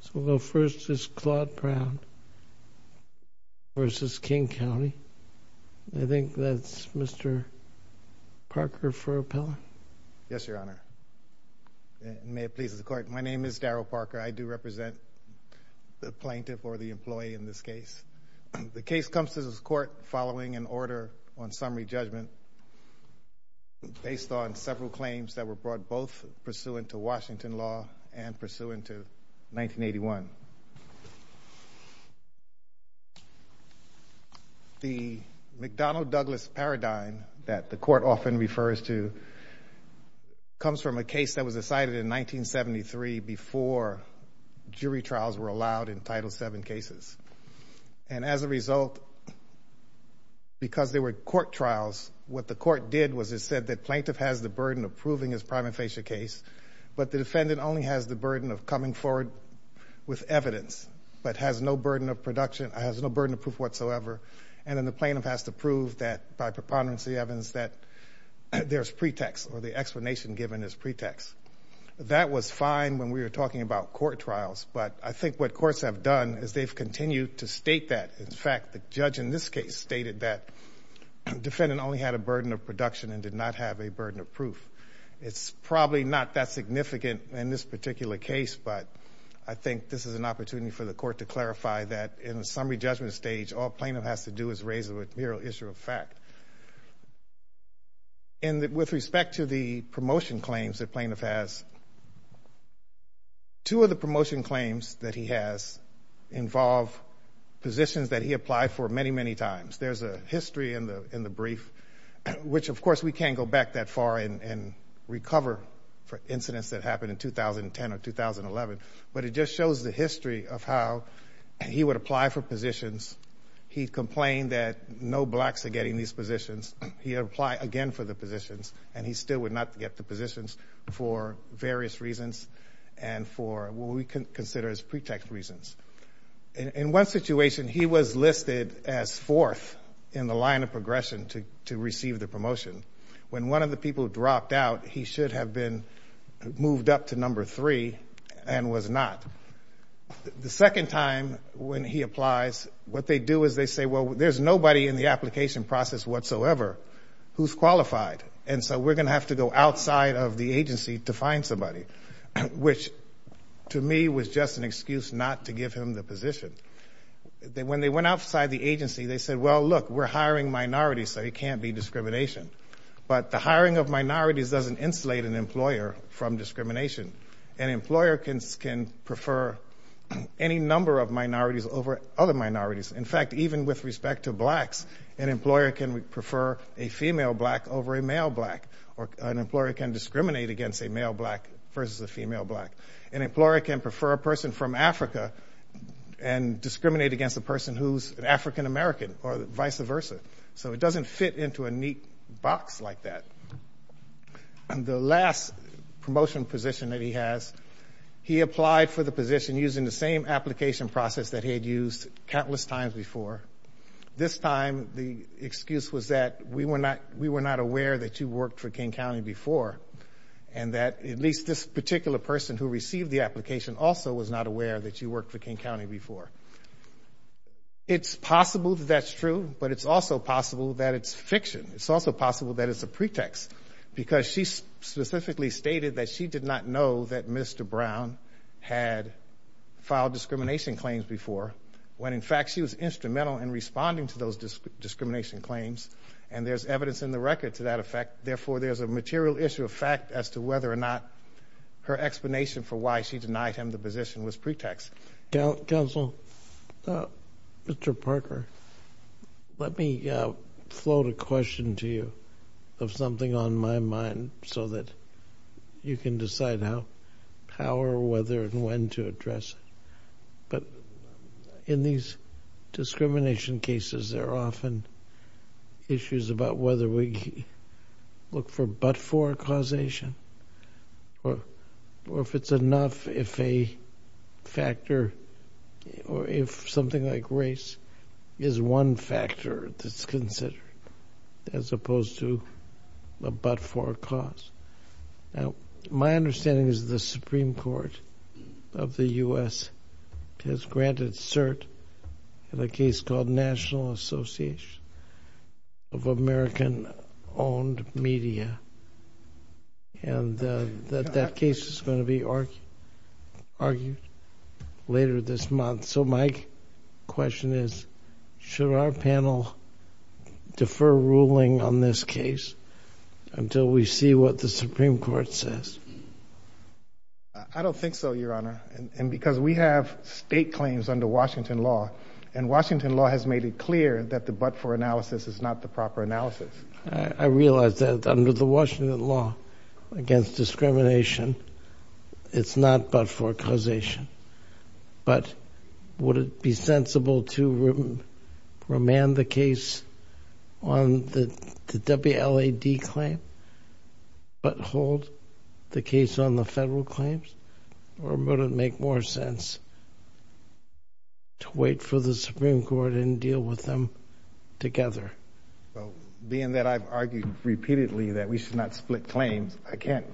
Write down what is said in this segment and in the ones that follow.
So we'll go first is Claude Brown v. King County. I think that's Mr. Parker for appellate. Yes, Your Honor. May it please the court. My name is Daryl Parker. I do represent the plaintiff or the employee in this case. The case comes to this court following an order on summary judgment based on several claims that were brought both pursuant to Washington law and pursuant to 1981. The McDonnell-Douglas paradigm that the court often refers to comes from a case that was decided in 1973 before jury trials were allowed in Title VII cases. And as a result, because there were court trials, what the court did was it said that plaintiff has the burden of proving his prima facie case, but the defendant only has the burden of coming forward with evidence, but has no burden of production, has no burden of proof whatsoever. And then the plaintiff has to prove that by preponderance of the evidence that there's pretext or the explanation given is pretext. That was fine when we were talking about court trials, but I think what courts have done is they've continued to state that. In fact, the judge in this case stated that defendant only had a burden of proof. It's probably not that significant in this particular case, but I think this is an opportunity for the court to clarify that in the summary judgment stage, all plaintiff has to do is raise a mere issue of fact. And with respect to the promotion claims that plaintiff has, two of the promotion claims that he has involve positions that he applied for many, many times. There's a history in the brief, which, of course, we can't go back that far and recover for incidents that happened in 2010 or 2011, but it just shows the history of how he would apply for positions. He complained that no blacks are getting these positions. He would apply again for the positions, and he still would not get the positions for various reasons and for what we know. He was listed as fourth in the line of progression to receive the promotion. When one of the people dropped out, he should have been moved up to number three and was not. The second time when he applies, what they do is they say, well, there's nobody in the application process whatsoever who's qualified, and so we're going to have to go outside of the agency to find somebody, which to me was just an excuse not to give him the position. When they went outside the agency, they said, well, look, we're hiring minorities, so it can't be discrimination. But the hiring of minorities doesn't insulate an employer from discrimination. An employer can prefer any number of minorities over other minorities. In fact, even with respect to blacks, an employer can prefer a female black over a male black, or an employer can discriminate against a male black versus a female black. An employer can prefer a person from Africa and discriminate against a person who's an African-American or vice versa. So it doesn't fit into a neat box like that. And the last promotion position that he has, he applied for the position using the same application process that he had used countless times before. This time, the excuse was that we were not aware that you worked for King County before and that at least this particular person who received the application also was not aware that you worked for King County before. It's possible that that's true, but it's also possible that it's fiction. It's also possible that it's a pretext because she specifically stated that she did not know that Mr. Brown had filed discrimination claims before when, in fact, she was instrumental in responding to those discrimination claims. And there's evidence in the fact as to whether or not her explanation for why she denied him the position was pretext. Counsel, Mr. Parker, let me float a question to you of something on my mind so that you can decide how, how or whether and when to address it. But in these discrimination cases, there are often issues about whether we look for forecausation or, or if it's enough, if a factor or if something like race is one factor that's considered as opposed to a but for cause. Now, my understanding is the Supreme Court of the U.S. has granted cert in a case called National Association of American-Owned Media. And that case is going to be argued later this month. So my question is, should our panel defer ruling on this case until we see what the Supreme Court says? I don't think so, Your Honor. And because we have state claims under Washington law, and Washington law has made it clear that the but for analysis is not the proper analysis. I realize that under the Washington law against discrimination, it's not but for causation. But would it be sensible to remand the case on the WLAD claim, but to wait for the Supreme Court and deal with them together? Well, being that I've argued repeatedly that we should not split claims, I can't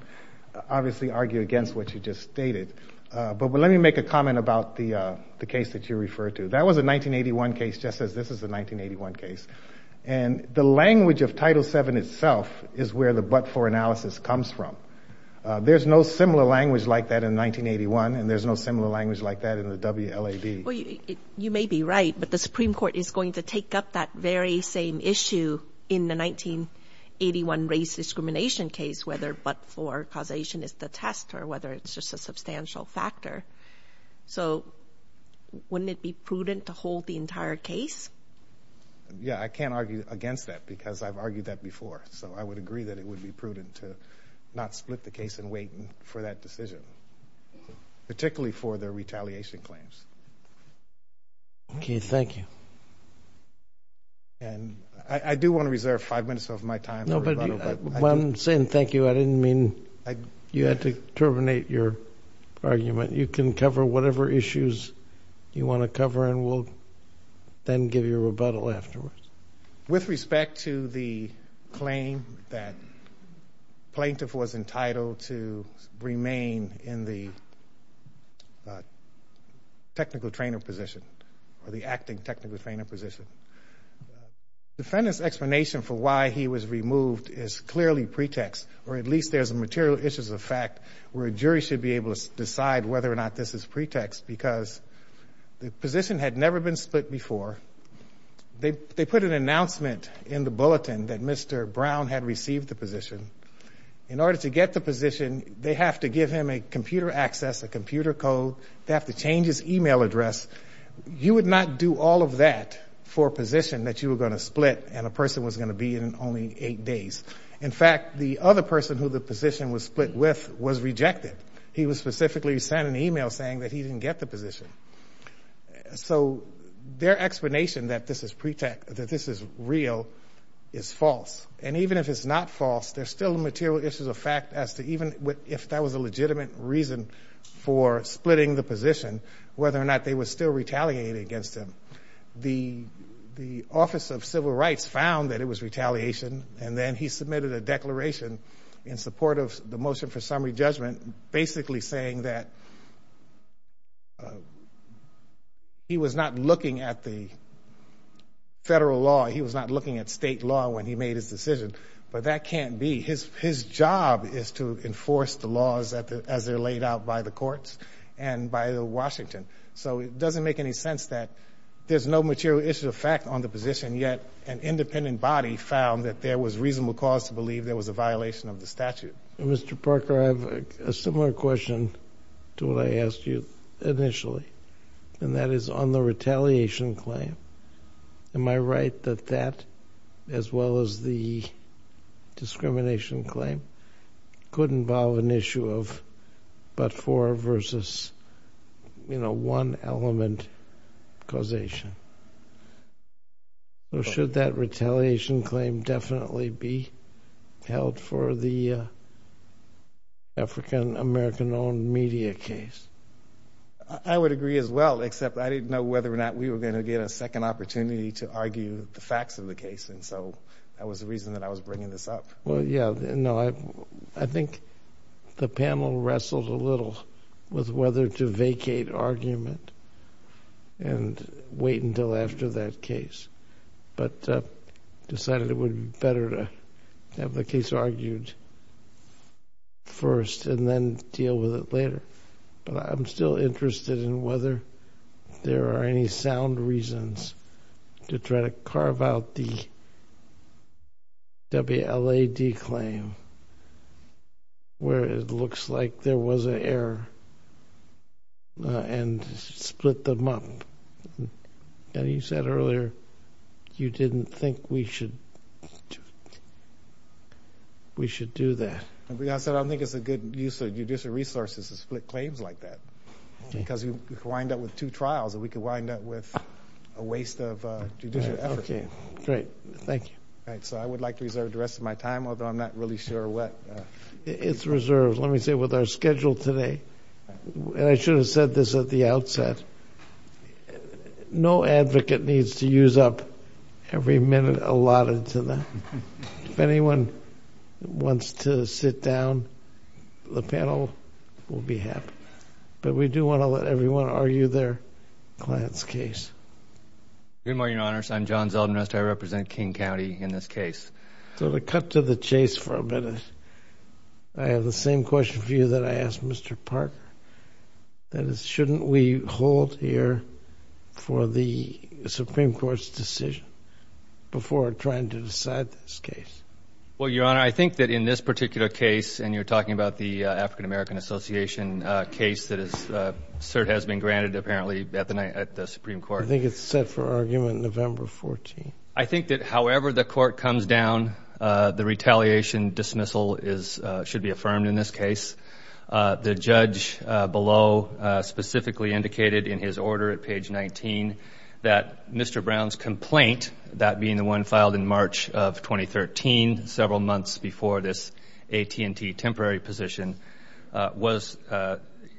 obviously argue against what you just stated. But let me make a comment about the, the case that you refer to. That was a 1981 case, just as this is a 1981 case. And the language of Title VII itself is where the but for analysis comes from. There's no similar language like that in 1981. And there's no similar language like that in the WLAD. Well, you may be right, but the Supreme Court is going to take up that very same issue in the 1981 race discrimination case, whether but for causation is the test or whether it's just a substantial factor. So wouldn't it be prudent to hold the entire case? Yeah, I can't argue against that because I've argued that before. So I would agree that it would be prudent to not split the case and wait for that decision, particularly for their retaliation claims. Okay, thank you. And I do want to reserve five minutes of my time. No, but when I'm saying thank you, I didn't mean you had to terminate your argument. You can cover whatever issues you want to cover and we'll then give you a rebuttal afterwards. With respect to the claim that plaintiff was entitled to remain in the technical trainer position or the acting technical trainer position, defendant's explanation for why he was removed is clearly pretext, or at least there's a material issues of fact where a jury should be able to decide whether or not this is pretext because the position had never been split before. They put an announcement in the bulletin that Mr. Brown had received the position. In order to get the position, they have to give him a computer access, a computer code. They have to change his email address. You would not do all of that for a position that you were going to split and a person was going to be in only eight days. In fact, the other person who the position was split with was rejected. He was specifically sent an email saying that he didn't get the information that this is real, is false. And even if it's not false, there's still a material issues of fact as to even if that was a legitimate reason for splitting the position, whether or not they were still retaliating against him. The Office of Civil Rights found that it was retaliation and then he submitted a declaration in support of the motion for summary judgment, basically saying that he was not looking at the federal law. He was not looking at state law when he made his decision. But that can't be his. His job is to enforce the laws as they're laid out by the courts and by Washington. So it doesn't make any sense that there's no material issue of fact on the position. Yet an independent body found that there was reasonable cause to believe there was a violation of the issue initially, and that is on the retaliation claim. Am I right that that, as well as the discrimination claim, could involve an issue of but for versus, you know, one element causation? Should that retaliation claim definitely be held for the African American owned media case? I would agree as well, except I didn't know whether or not we were going to get a second opportunity to argue the facts of the case. And so that was the reason that I was bringing this up. Well, yeah, no, I think the panel wrestled a little with whether to vacate argument and wait until after that case, but decided it would be better to have the case argued first and then deal with it later. But I'm still interested in whether there are any sound reasons to try to carve out the WLAD claim where it looks like there was an error and split them up. And you said earlier you didn't think we should do that. I said I don't think it's a good use of judicial resources to split claims like that, because you wind up with two trials and we could wind up with a waste of judicial effort. Okay, great. Thank you. Right. So I would like to reserve the rest of my time, although I'm not really sure what. It's reserved, let me say, with our schedule today. And I should have said this at the outset. No advocate needs to use up every minute allotted to them. If anyone wants to sit down, the panel will be happy. But we do want to let everyone argue their client's case. Good morning, Your Honor. I'm John Zeldin. I represent King County in this case. So to cut to the chase for a minute, I have the same question for you that I asked Mr. Parker. That is, shouldn't we hold here for the Well, Your Honor, I think that in this particular case, and you're talking about the African American Association case that has been granted, apparently, at the Supreme Court. I think it's set for argument November 14. I think that however the court comes down, the retaliation dismissal should be affirmed in this case. The judge below specifically indicated in his order at page 19 that Mr. Brown's complaint, that being the one filed in March of 2013, several months before this AT&T temporary position,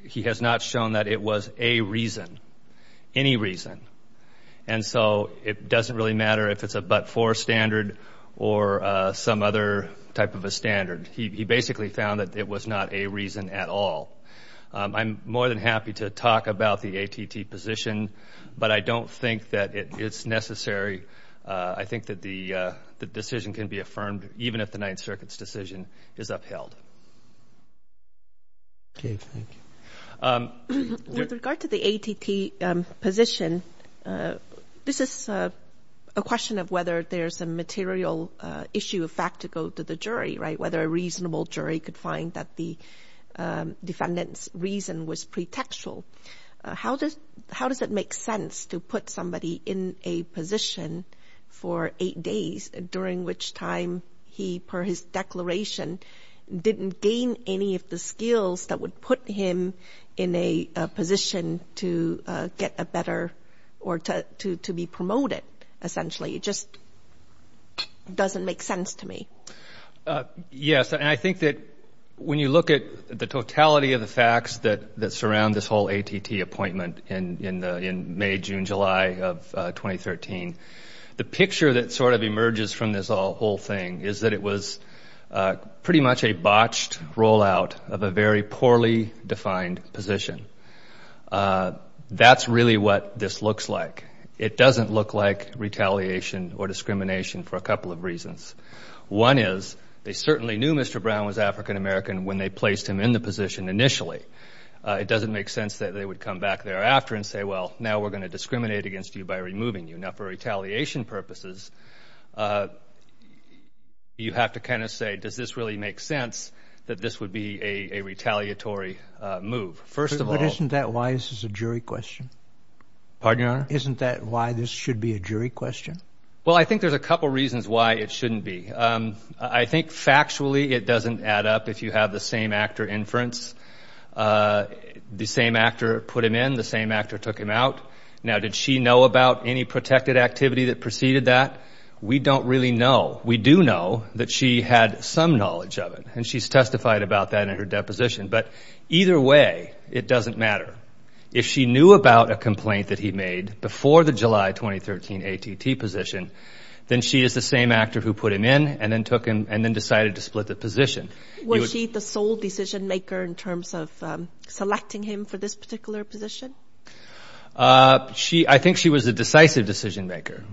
he has not shown that it was a reason, any reason. And so it doesn't really matter if it's a but-for standard or some other type of a standard. He basically found that it was not a reason at all. I'm more than happy to talk about the AT&T position, but I think that the decision can be affirmed even if the Ninth Circuit's decision is upheld. Okay, thank you. With regard to the AT&T position, this is a question of whether there's a material issue of fact to go to the jury, right? Whether a reasonable jury could find that the defendant's reason was pretextual. How does it make sense to put somebody in a position for eight days, during which time he, per his declaration, didn't gain any of the skills that would put him in a position to get a better, or to be promoted, essentially? It just doesn't make sense to me. Yes, and I think that when you look at the totality of the facts that surround this whole AT&T appointment in May, June, July of 2013, the picture that sort of emerges from this whole thing is that it was pretty much a botched rollout of a very poorly defined position. That's really what this looks like. It doesn't look like retaliation or discrimination for a couple of reasons. One is, they certainly knew Mr. Brown was African American when they placed him in the position. So it doesn't make sense that they would come back thereafter and say, well, now we're going to discriminate against you by removing you. Now, for retaliation purposes, you have to kind of say, does this really make sense that this would be a retaliatory move? First of all... But isn't that why this is a jury question? Pardon, Your Honor? Isn't that why this should be a jury question? Well, I think there's a couple reasons why it shouldn't be. I think, factually, it doesn't add up. If you have the same actor inference, the same actor put him in, the same actor took him out. Now, did she know about any protected activity that preceded that? We don't really know. We do know that she had some knowledge of it, and she's testified about that in her deposition. But either way, it doesn't matter. If she knew about a complaint that he made before the July 2013 AT&T position, then she is the same actor who put him in and then took him and then decided to split the position. Was she the sole decision-maker in terms of selecting him for this particular position? I think she was a decisive decision-maker.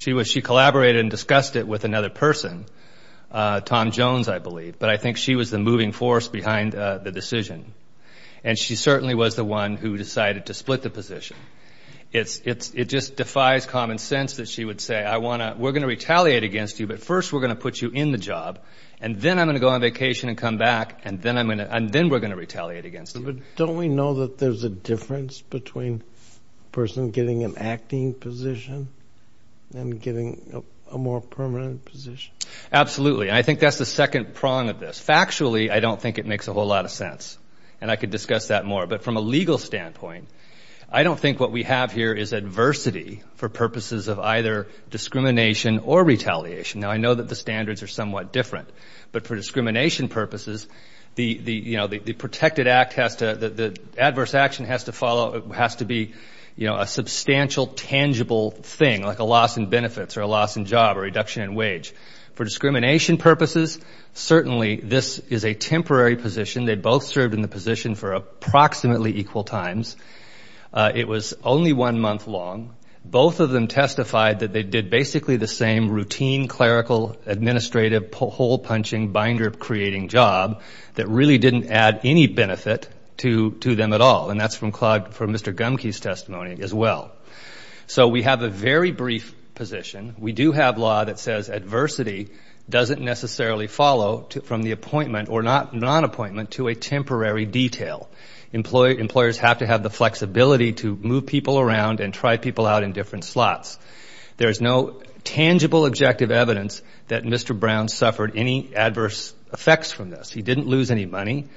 She collaborated and discussed it with another person, Tom Jones, I believe. But I think she was the moving force behind the decision. And she certainly was the one who decided to split the position. It just defies common sense that she would say, we're going to retaliate against you, but first we're going to put you in the job, and then I'm going to go on vacation and come back, and then we're going to retaliate against you. But don't we know that there's a difference between a person getting an acting position and getting a more permanent position? Absolutely, and I think that's the second prong of this. Factually, I don't think it makes a whole lot of sense, and I could discuss that more. But from a legal standpoint, I don't think what we have here is adversity for purposes of either retaliation. Now, I know that the standards are somewhat different, but for discrimination purposes, the protected act has to, the adverse action has to follow, has to be, you know, a substantial, tangible thing, like a loss in benefits or a loss in job or reduction in wage. For discrimination purposes, certainly this is a temporary position. They both served in the position for approximately equal times. It was only one month long. Both of them testified that they did basically the same routine, clerical, administrative, hole-punching, binder-creating job that really didn't add any benefit to them at all. And that's from Mr. Gumke's testimony as well. So we have a very brief position. We do have law that says adversity doesn't necessarily follow from the appointment or non-appointment to a temporary detail. Employers have to have the flexibility to move people around and try people out in different slots. There is no tangible objective evidence that Mr. Brown suffered any adverse effects from this. He didn't lose any money.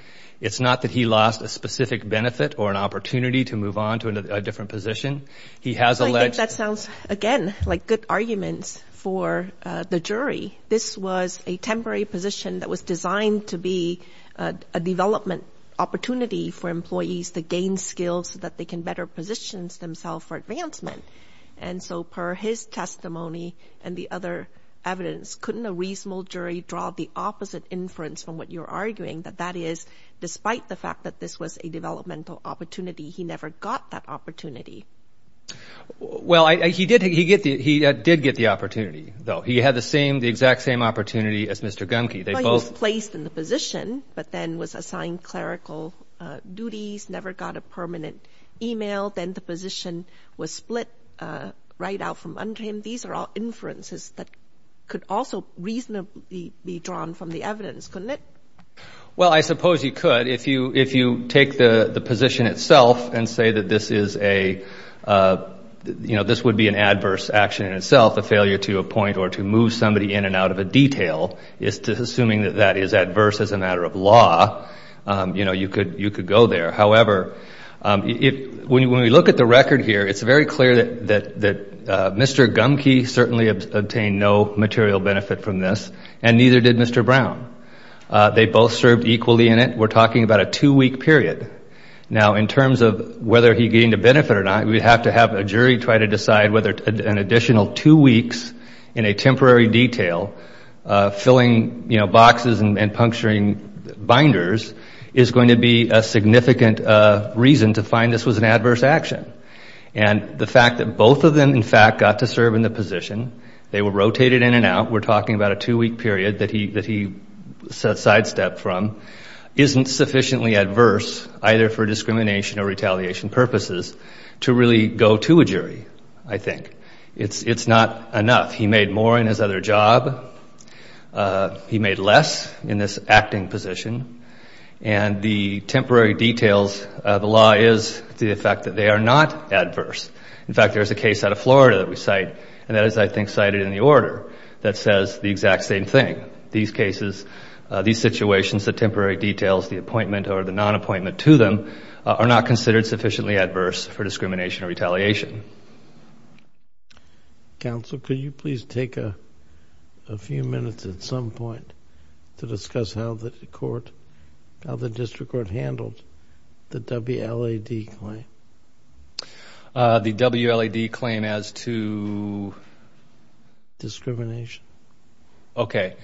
It's not that he lost a specific benefit or an opportunity to move on to a different position. He has a legitimacy. I think that sounds, again, like good arguments for the jury. This was a temporary position that was designed to be a development opportunity for advancement. And so per his testimony and the other evidence, couldn't a reasonable jury draw the opposite inference from what you're arguing, that that is, despite the fact that this was a developmental opportunity, he never got that opportunity? Well, he did get the opportunity, though. He had the same, the exact same opportunity as Mr. Gumke. He was placed in the position, but then was assigned clerical duties, never got a split right out from under him. These are all inferences that could also reasonably be drawn from the evidence, couldn't it? Well, I suppose you could. If you take the position itself and say that this is a, you know, this would be an adverse action in itself, a failure to appoint or to move somebody in and out of a detail, assuming that that is adverse as a matter of law, you know, you could go there. However, when we look at the record here, it's very clear that Mr. Gumke certainly obtained no material benefit from this, and neither did Mr. Brown. They both served equally in it. We're talking about a two-week period. Now, in terms of whether he gained a benefit or not, we'd have to have a jury try to decide whether an additional two weeks in a temporary detail, filling, you know, was going to be a significant reason to find this was an adverse action. And the fact that both of them, in fact, got to serve in the position, they were rotated in and out, we're talking about a two-week period that he sidestepped from, isn't sufficiently adverse, either for discrimination or retaliation purposes, to really go to a jury, I think. It's not enough. He made more in his other job. He made less in this acting position. And the temporary details of the law is the fact that they are not adverse. In fact, there is a case out of Florida that we cite, and that is, I think, cited in the order, that says the exact same thing. These cases, these situations, the temporary details, the appointment or the non-appointment to them are not considered sufficiently adverse for discrimination or retaliation. Thank you. Counsel, could you please take a few minutes at some point to discuss how the court, how the district court handled the WLAD claim? The WLAD claim as to? Discrimination. Okay.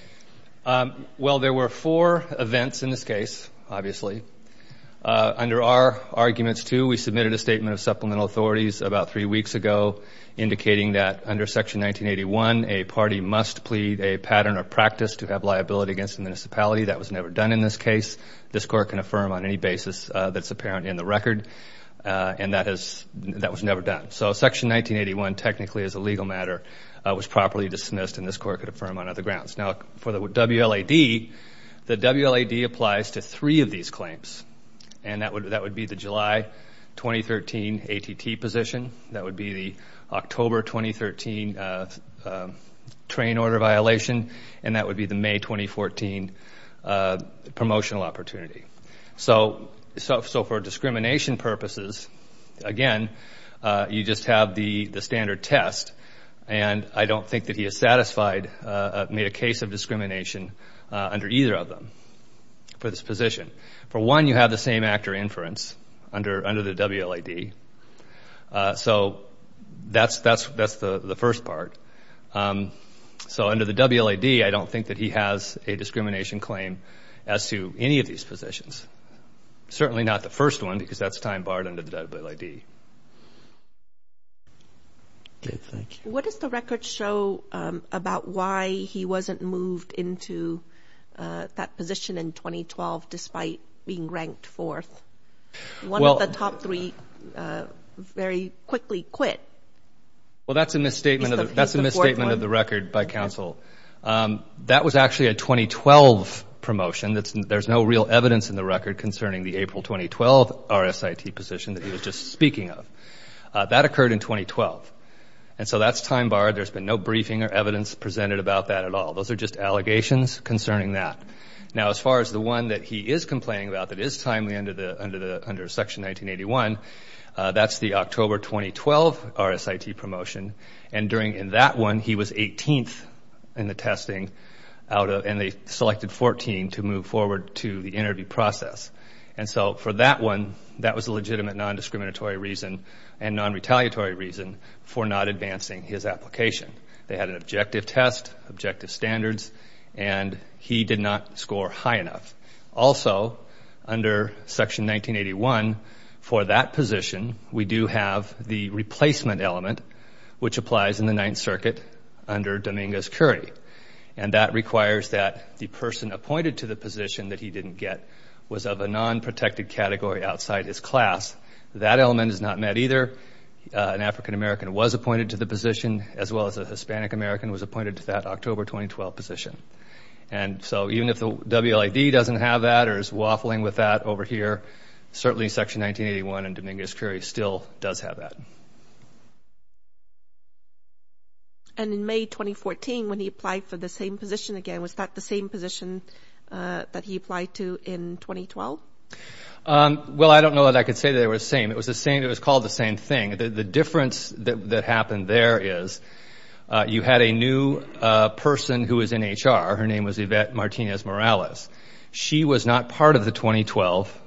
Well, there were four events in this case, obviously. Under our arguments, too, we submitted a statement of supplemental authorities about three weeks ago indicating that under Section 1981, a party must plead a pattern or practice to have liability against the municipality. That was never done in this case. This court can affirm on any basis that's apparent in the record. And that was never done. So Section 1981 technically is a legal matter, was properly dismissed, and this court could affirm on other grounds. Now, for the WLAD, the WLAD applies to three of these claims. And that would be the July 2013 ATT position. That would be the October 2013 train order violation. And that would be the May 2014 promotional opportunity. So for discrimination purposes, again, you just have the standard test. And I don't think that he is satisfied, made a case of discrimination under either of them for this position. For one, you have the same actor inference under the WLAD. So that's the first part. So under the WLAD, I don't think that he has a discrimination claim as to any of these positions, certainly not the first one because that's time barred under the WLAD. Okay, thank you. What does the record show about why he wasn't moved into that position in 2012 despite being ranked fourth? One of the top three very quickly quit. Well, that's a misstatement of the record by counsel. That was actually a 2012 promotion. There's no real evidence in the record concerning the April 2012 RSIT position that he was just speaking of. That occurred in 2012. And so that's time barred. There's been no briefing or evidence presented about that at all. Those are just allegations concerning that. Now, as far as the one that he is complaining about that is timely under Section 1981, that's the October 2012 RSIT promotion. And during that one, he was 18th in the testing, and they selected 14 to move forward to the interview process. And so for that one, that was a legitimate non-discriminatory reason and non-retaliatory reason for not advancing his application. They had an objective test, objective standards, and he did not score high enough. Also, under Section 1981, for that position, we do have the replacement element, which applies in the Ninth Circuit under Dominguez-Curry, and that requires that the person appointed to the position that he didn't get was of a non-protected category outside his class. That element is not met either. An African American was appointed to the position, as well as a Hispanic American was appointed to that October 2012 position. And so even if the WLAD doesn't have that or is waffling with that over here, certainly Section 1981 and Dominguez-Curry still does have that. And in May 2014, when he applied for the same position again, was that the same position that he applied to in 2012? Well, I don't know that I could say they were the same. It was called the same thing. The difference that happened there is you had a new person who was in HR. Her name was Yvette Martinez-Morales. She was not part of the 2012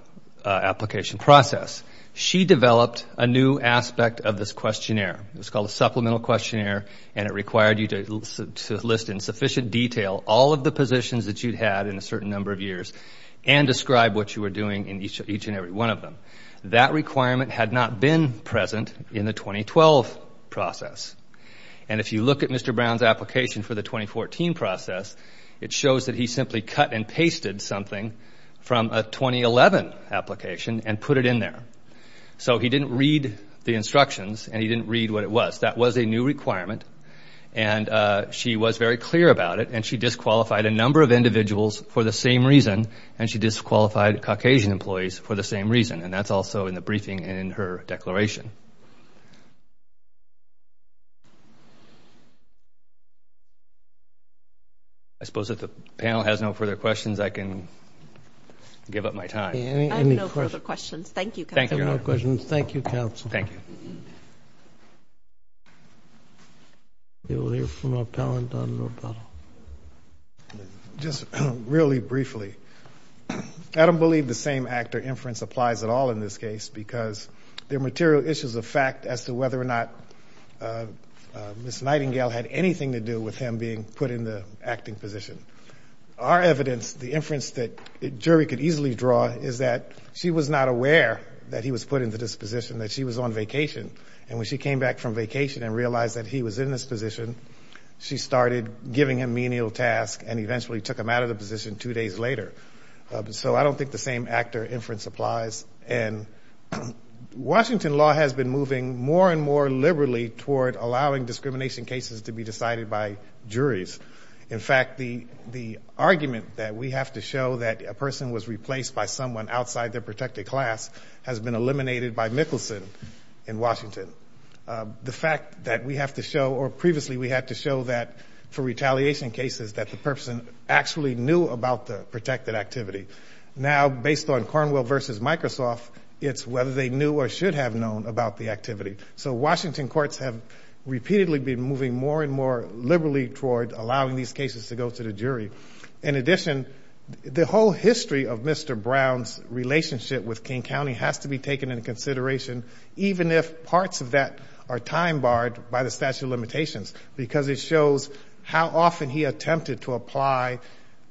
application process. She developed a new aspect of this questionnaire. It was called a supplemental questionnaire, and it required you to list in sufficient detail all of the positions that you'd had in a certain number of years and describe what you were doing in each and every one of them. That requirement had not been present in the 2012 process. And if you look at Mr. Brown's application for the 2014 process, it shows that he simply cut and pasted something from a 2011 application and put it in there. So he didn't read the instructions and he didn't read what it was. That was a new requirement, and she was very clear about it, and she disqualified a number of individuals for the same reason, and she disqualified Caucasian employees for the same reason, and that's also in the briefing in her declaration. I suppose if the panel has no further questions, I can give up my time. I have no further questions. Thank you, Counsel. Thank you, Your Honor. No further questions. Thank you, Counsel. Thank you. We will hear from our panel and Dr. Lopato. Just really briefly, I don't believe the same actor inference applies at all in this case because there are material issues of fact as to whether or not Ms. Nightingale had anything to do with him being put in the acting position. Our evidence, the inference that a jury could easily draw, is that she was not aware that he was put into this position, that she was on vacation, and when she came back from vacation and realized that he was in this position, she started giving him menial tasks and eventually took him out of the position two days later. So I don't think the same actor inference applies, and Washington law has been moving more and more liberally toward allowing discrimination cases to be decided by juries. In fact, the argument that we have to show that a person was replaced by someone outside their protected class has been eliminated by Mickelson in Washington. The fact that we have to show, or previously we had to show that for retaliation cases, that the person actually knew about the protected activity. Now, based on Cornwell versus Microsoft, it's whether they knew or should have known about the activity. So Washington courts have repeatedly been moving more and more liberally toward allowing these cases to go to the jury. In addition, the whole history of Mr. Brown's relationship with King County has to be taken into consideration, even if parts of that are time barred by the statute of limitations, because it shows how often he attempted to apply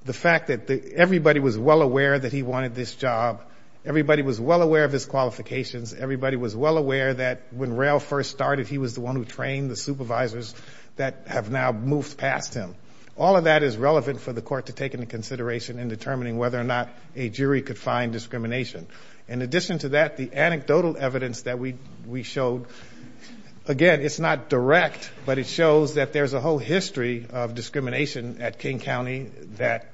the fact that everybody was well aware that he wanted this job, everybody was well aware of his qualifications, everybody was well aware that when rail first started, he was the one who trained the supervisors that have now moved past him. All of that is relevant for the court to take into consideration in determining whether or not a jury could find discrimination. In addition to that, the anecdotal evidence that we showed, again, it's not direct, but it shows that there's a whole history of discrimination at King County, that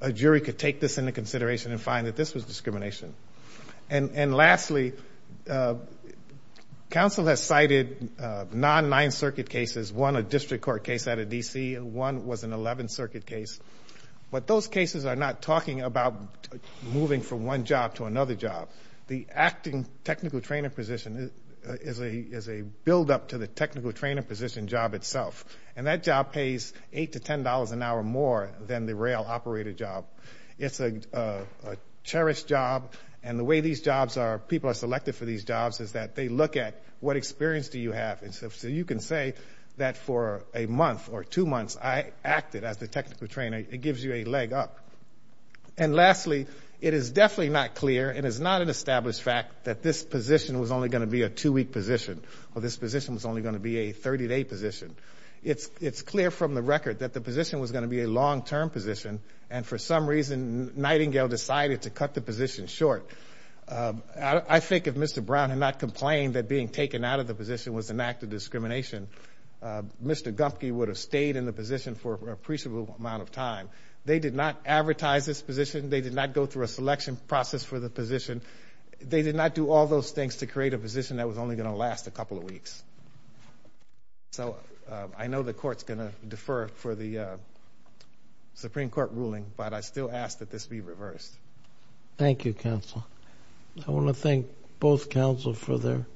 a jury could take this into consideration and find that this was discrimination. And lastly, council has cited non-Ninth Circuit cases, one a district court case out of D.C., and one was an Eleventh Circuit case. But those cases are not talking about moving from one job to another job. The acting technical training position is a buildup to the technical training position job itself, and that job pays $8 to $10 an hour more than the rail operator job. It's a cherished job, and the way these jobs are, people are selected for these jobs, is that they look at what experience do you have. And so you can say that for a month or two months I acted as the technical trainer. It gives you a leg up. And lastly, it is definitely not clear, it is not an established fact, that this position was only going to be a two-week position or this position was only going to be a 30-day position. It's clear from the record that the position was going to be a long-term position, and for some reason Nightingale decided to cut the position short. I think if Mr. Brown had not complained that being taken out of the position was an act of discrimination, Mr. Gumpke would have stayed in the position for an appreciable amount of time. They did not advertise this position. They did not go through a selection process for the position. They did not do all those things to create a position that was only going to last a couple of weeks. So I know the court is going to defer for the Supreme Court ruling, but I still ask that this be reversed. Thank you, counsel. I want to thank both counsel for their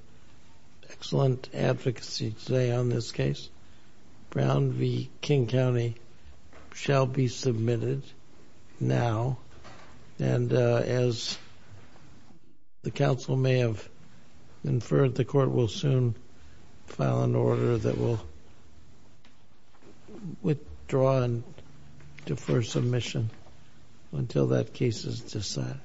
excellent advocacy today on this case. Brown v. King County shall be submitted now. And as the counsel may have inferred, the court will soon file an order that will withdraw and defer submission until that case is decided.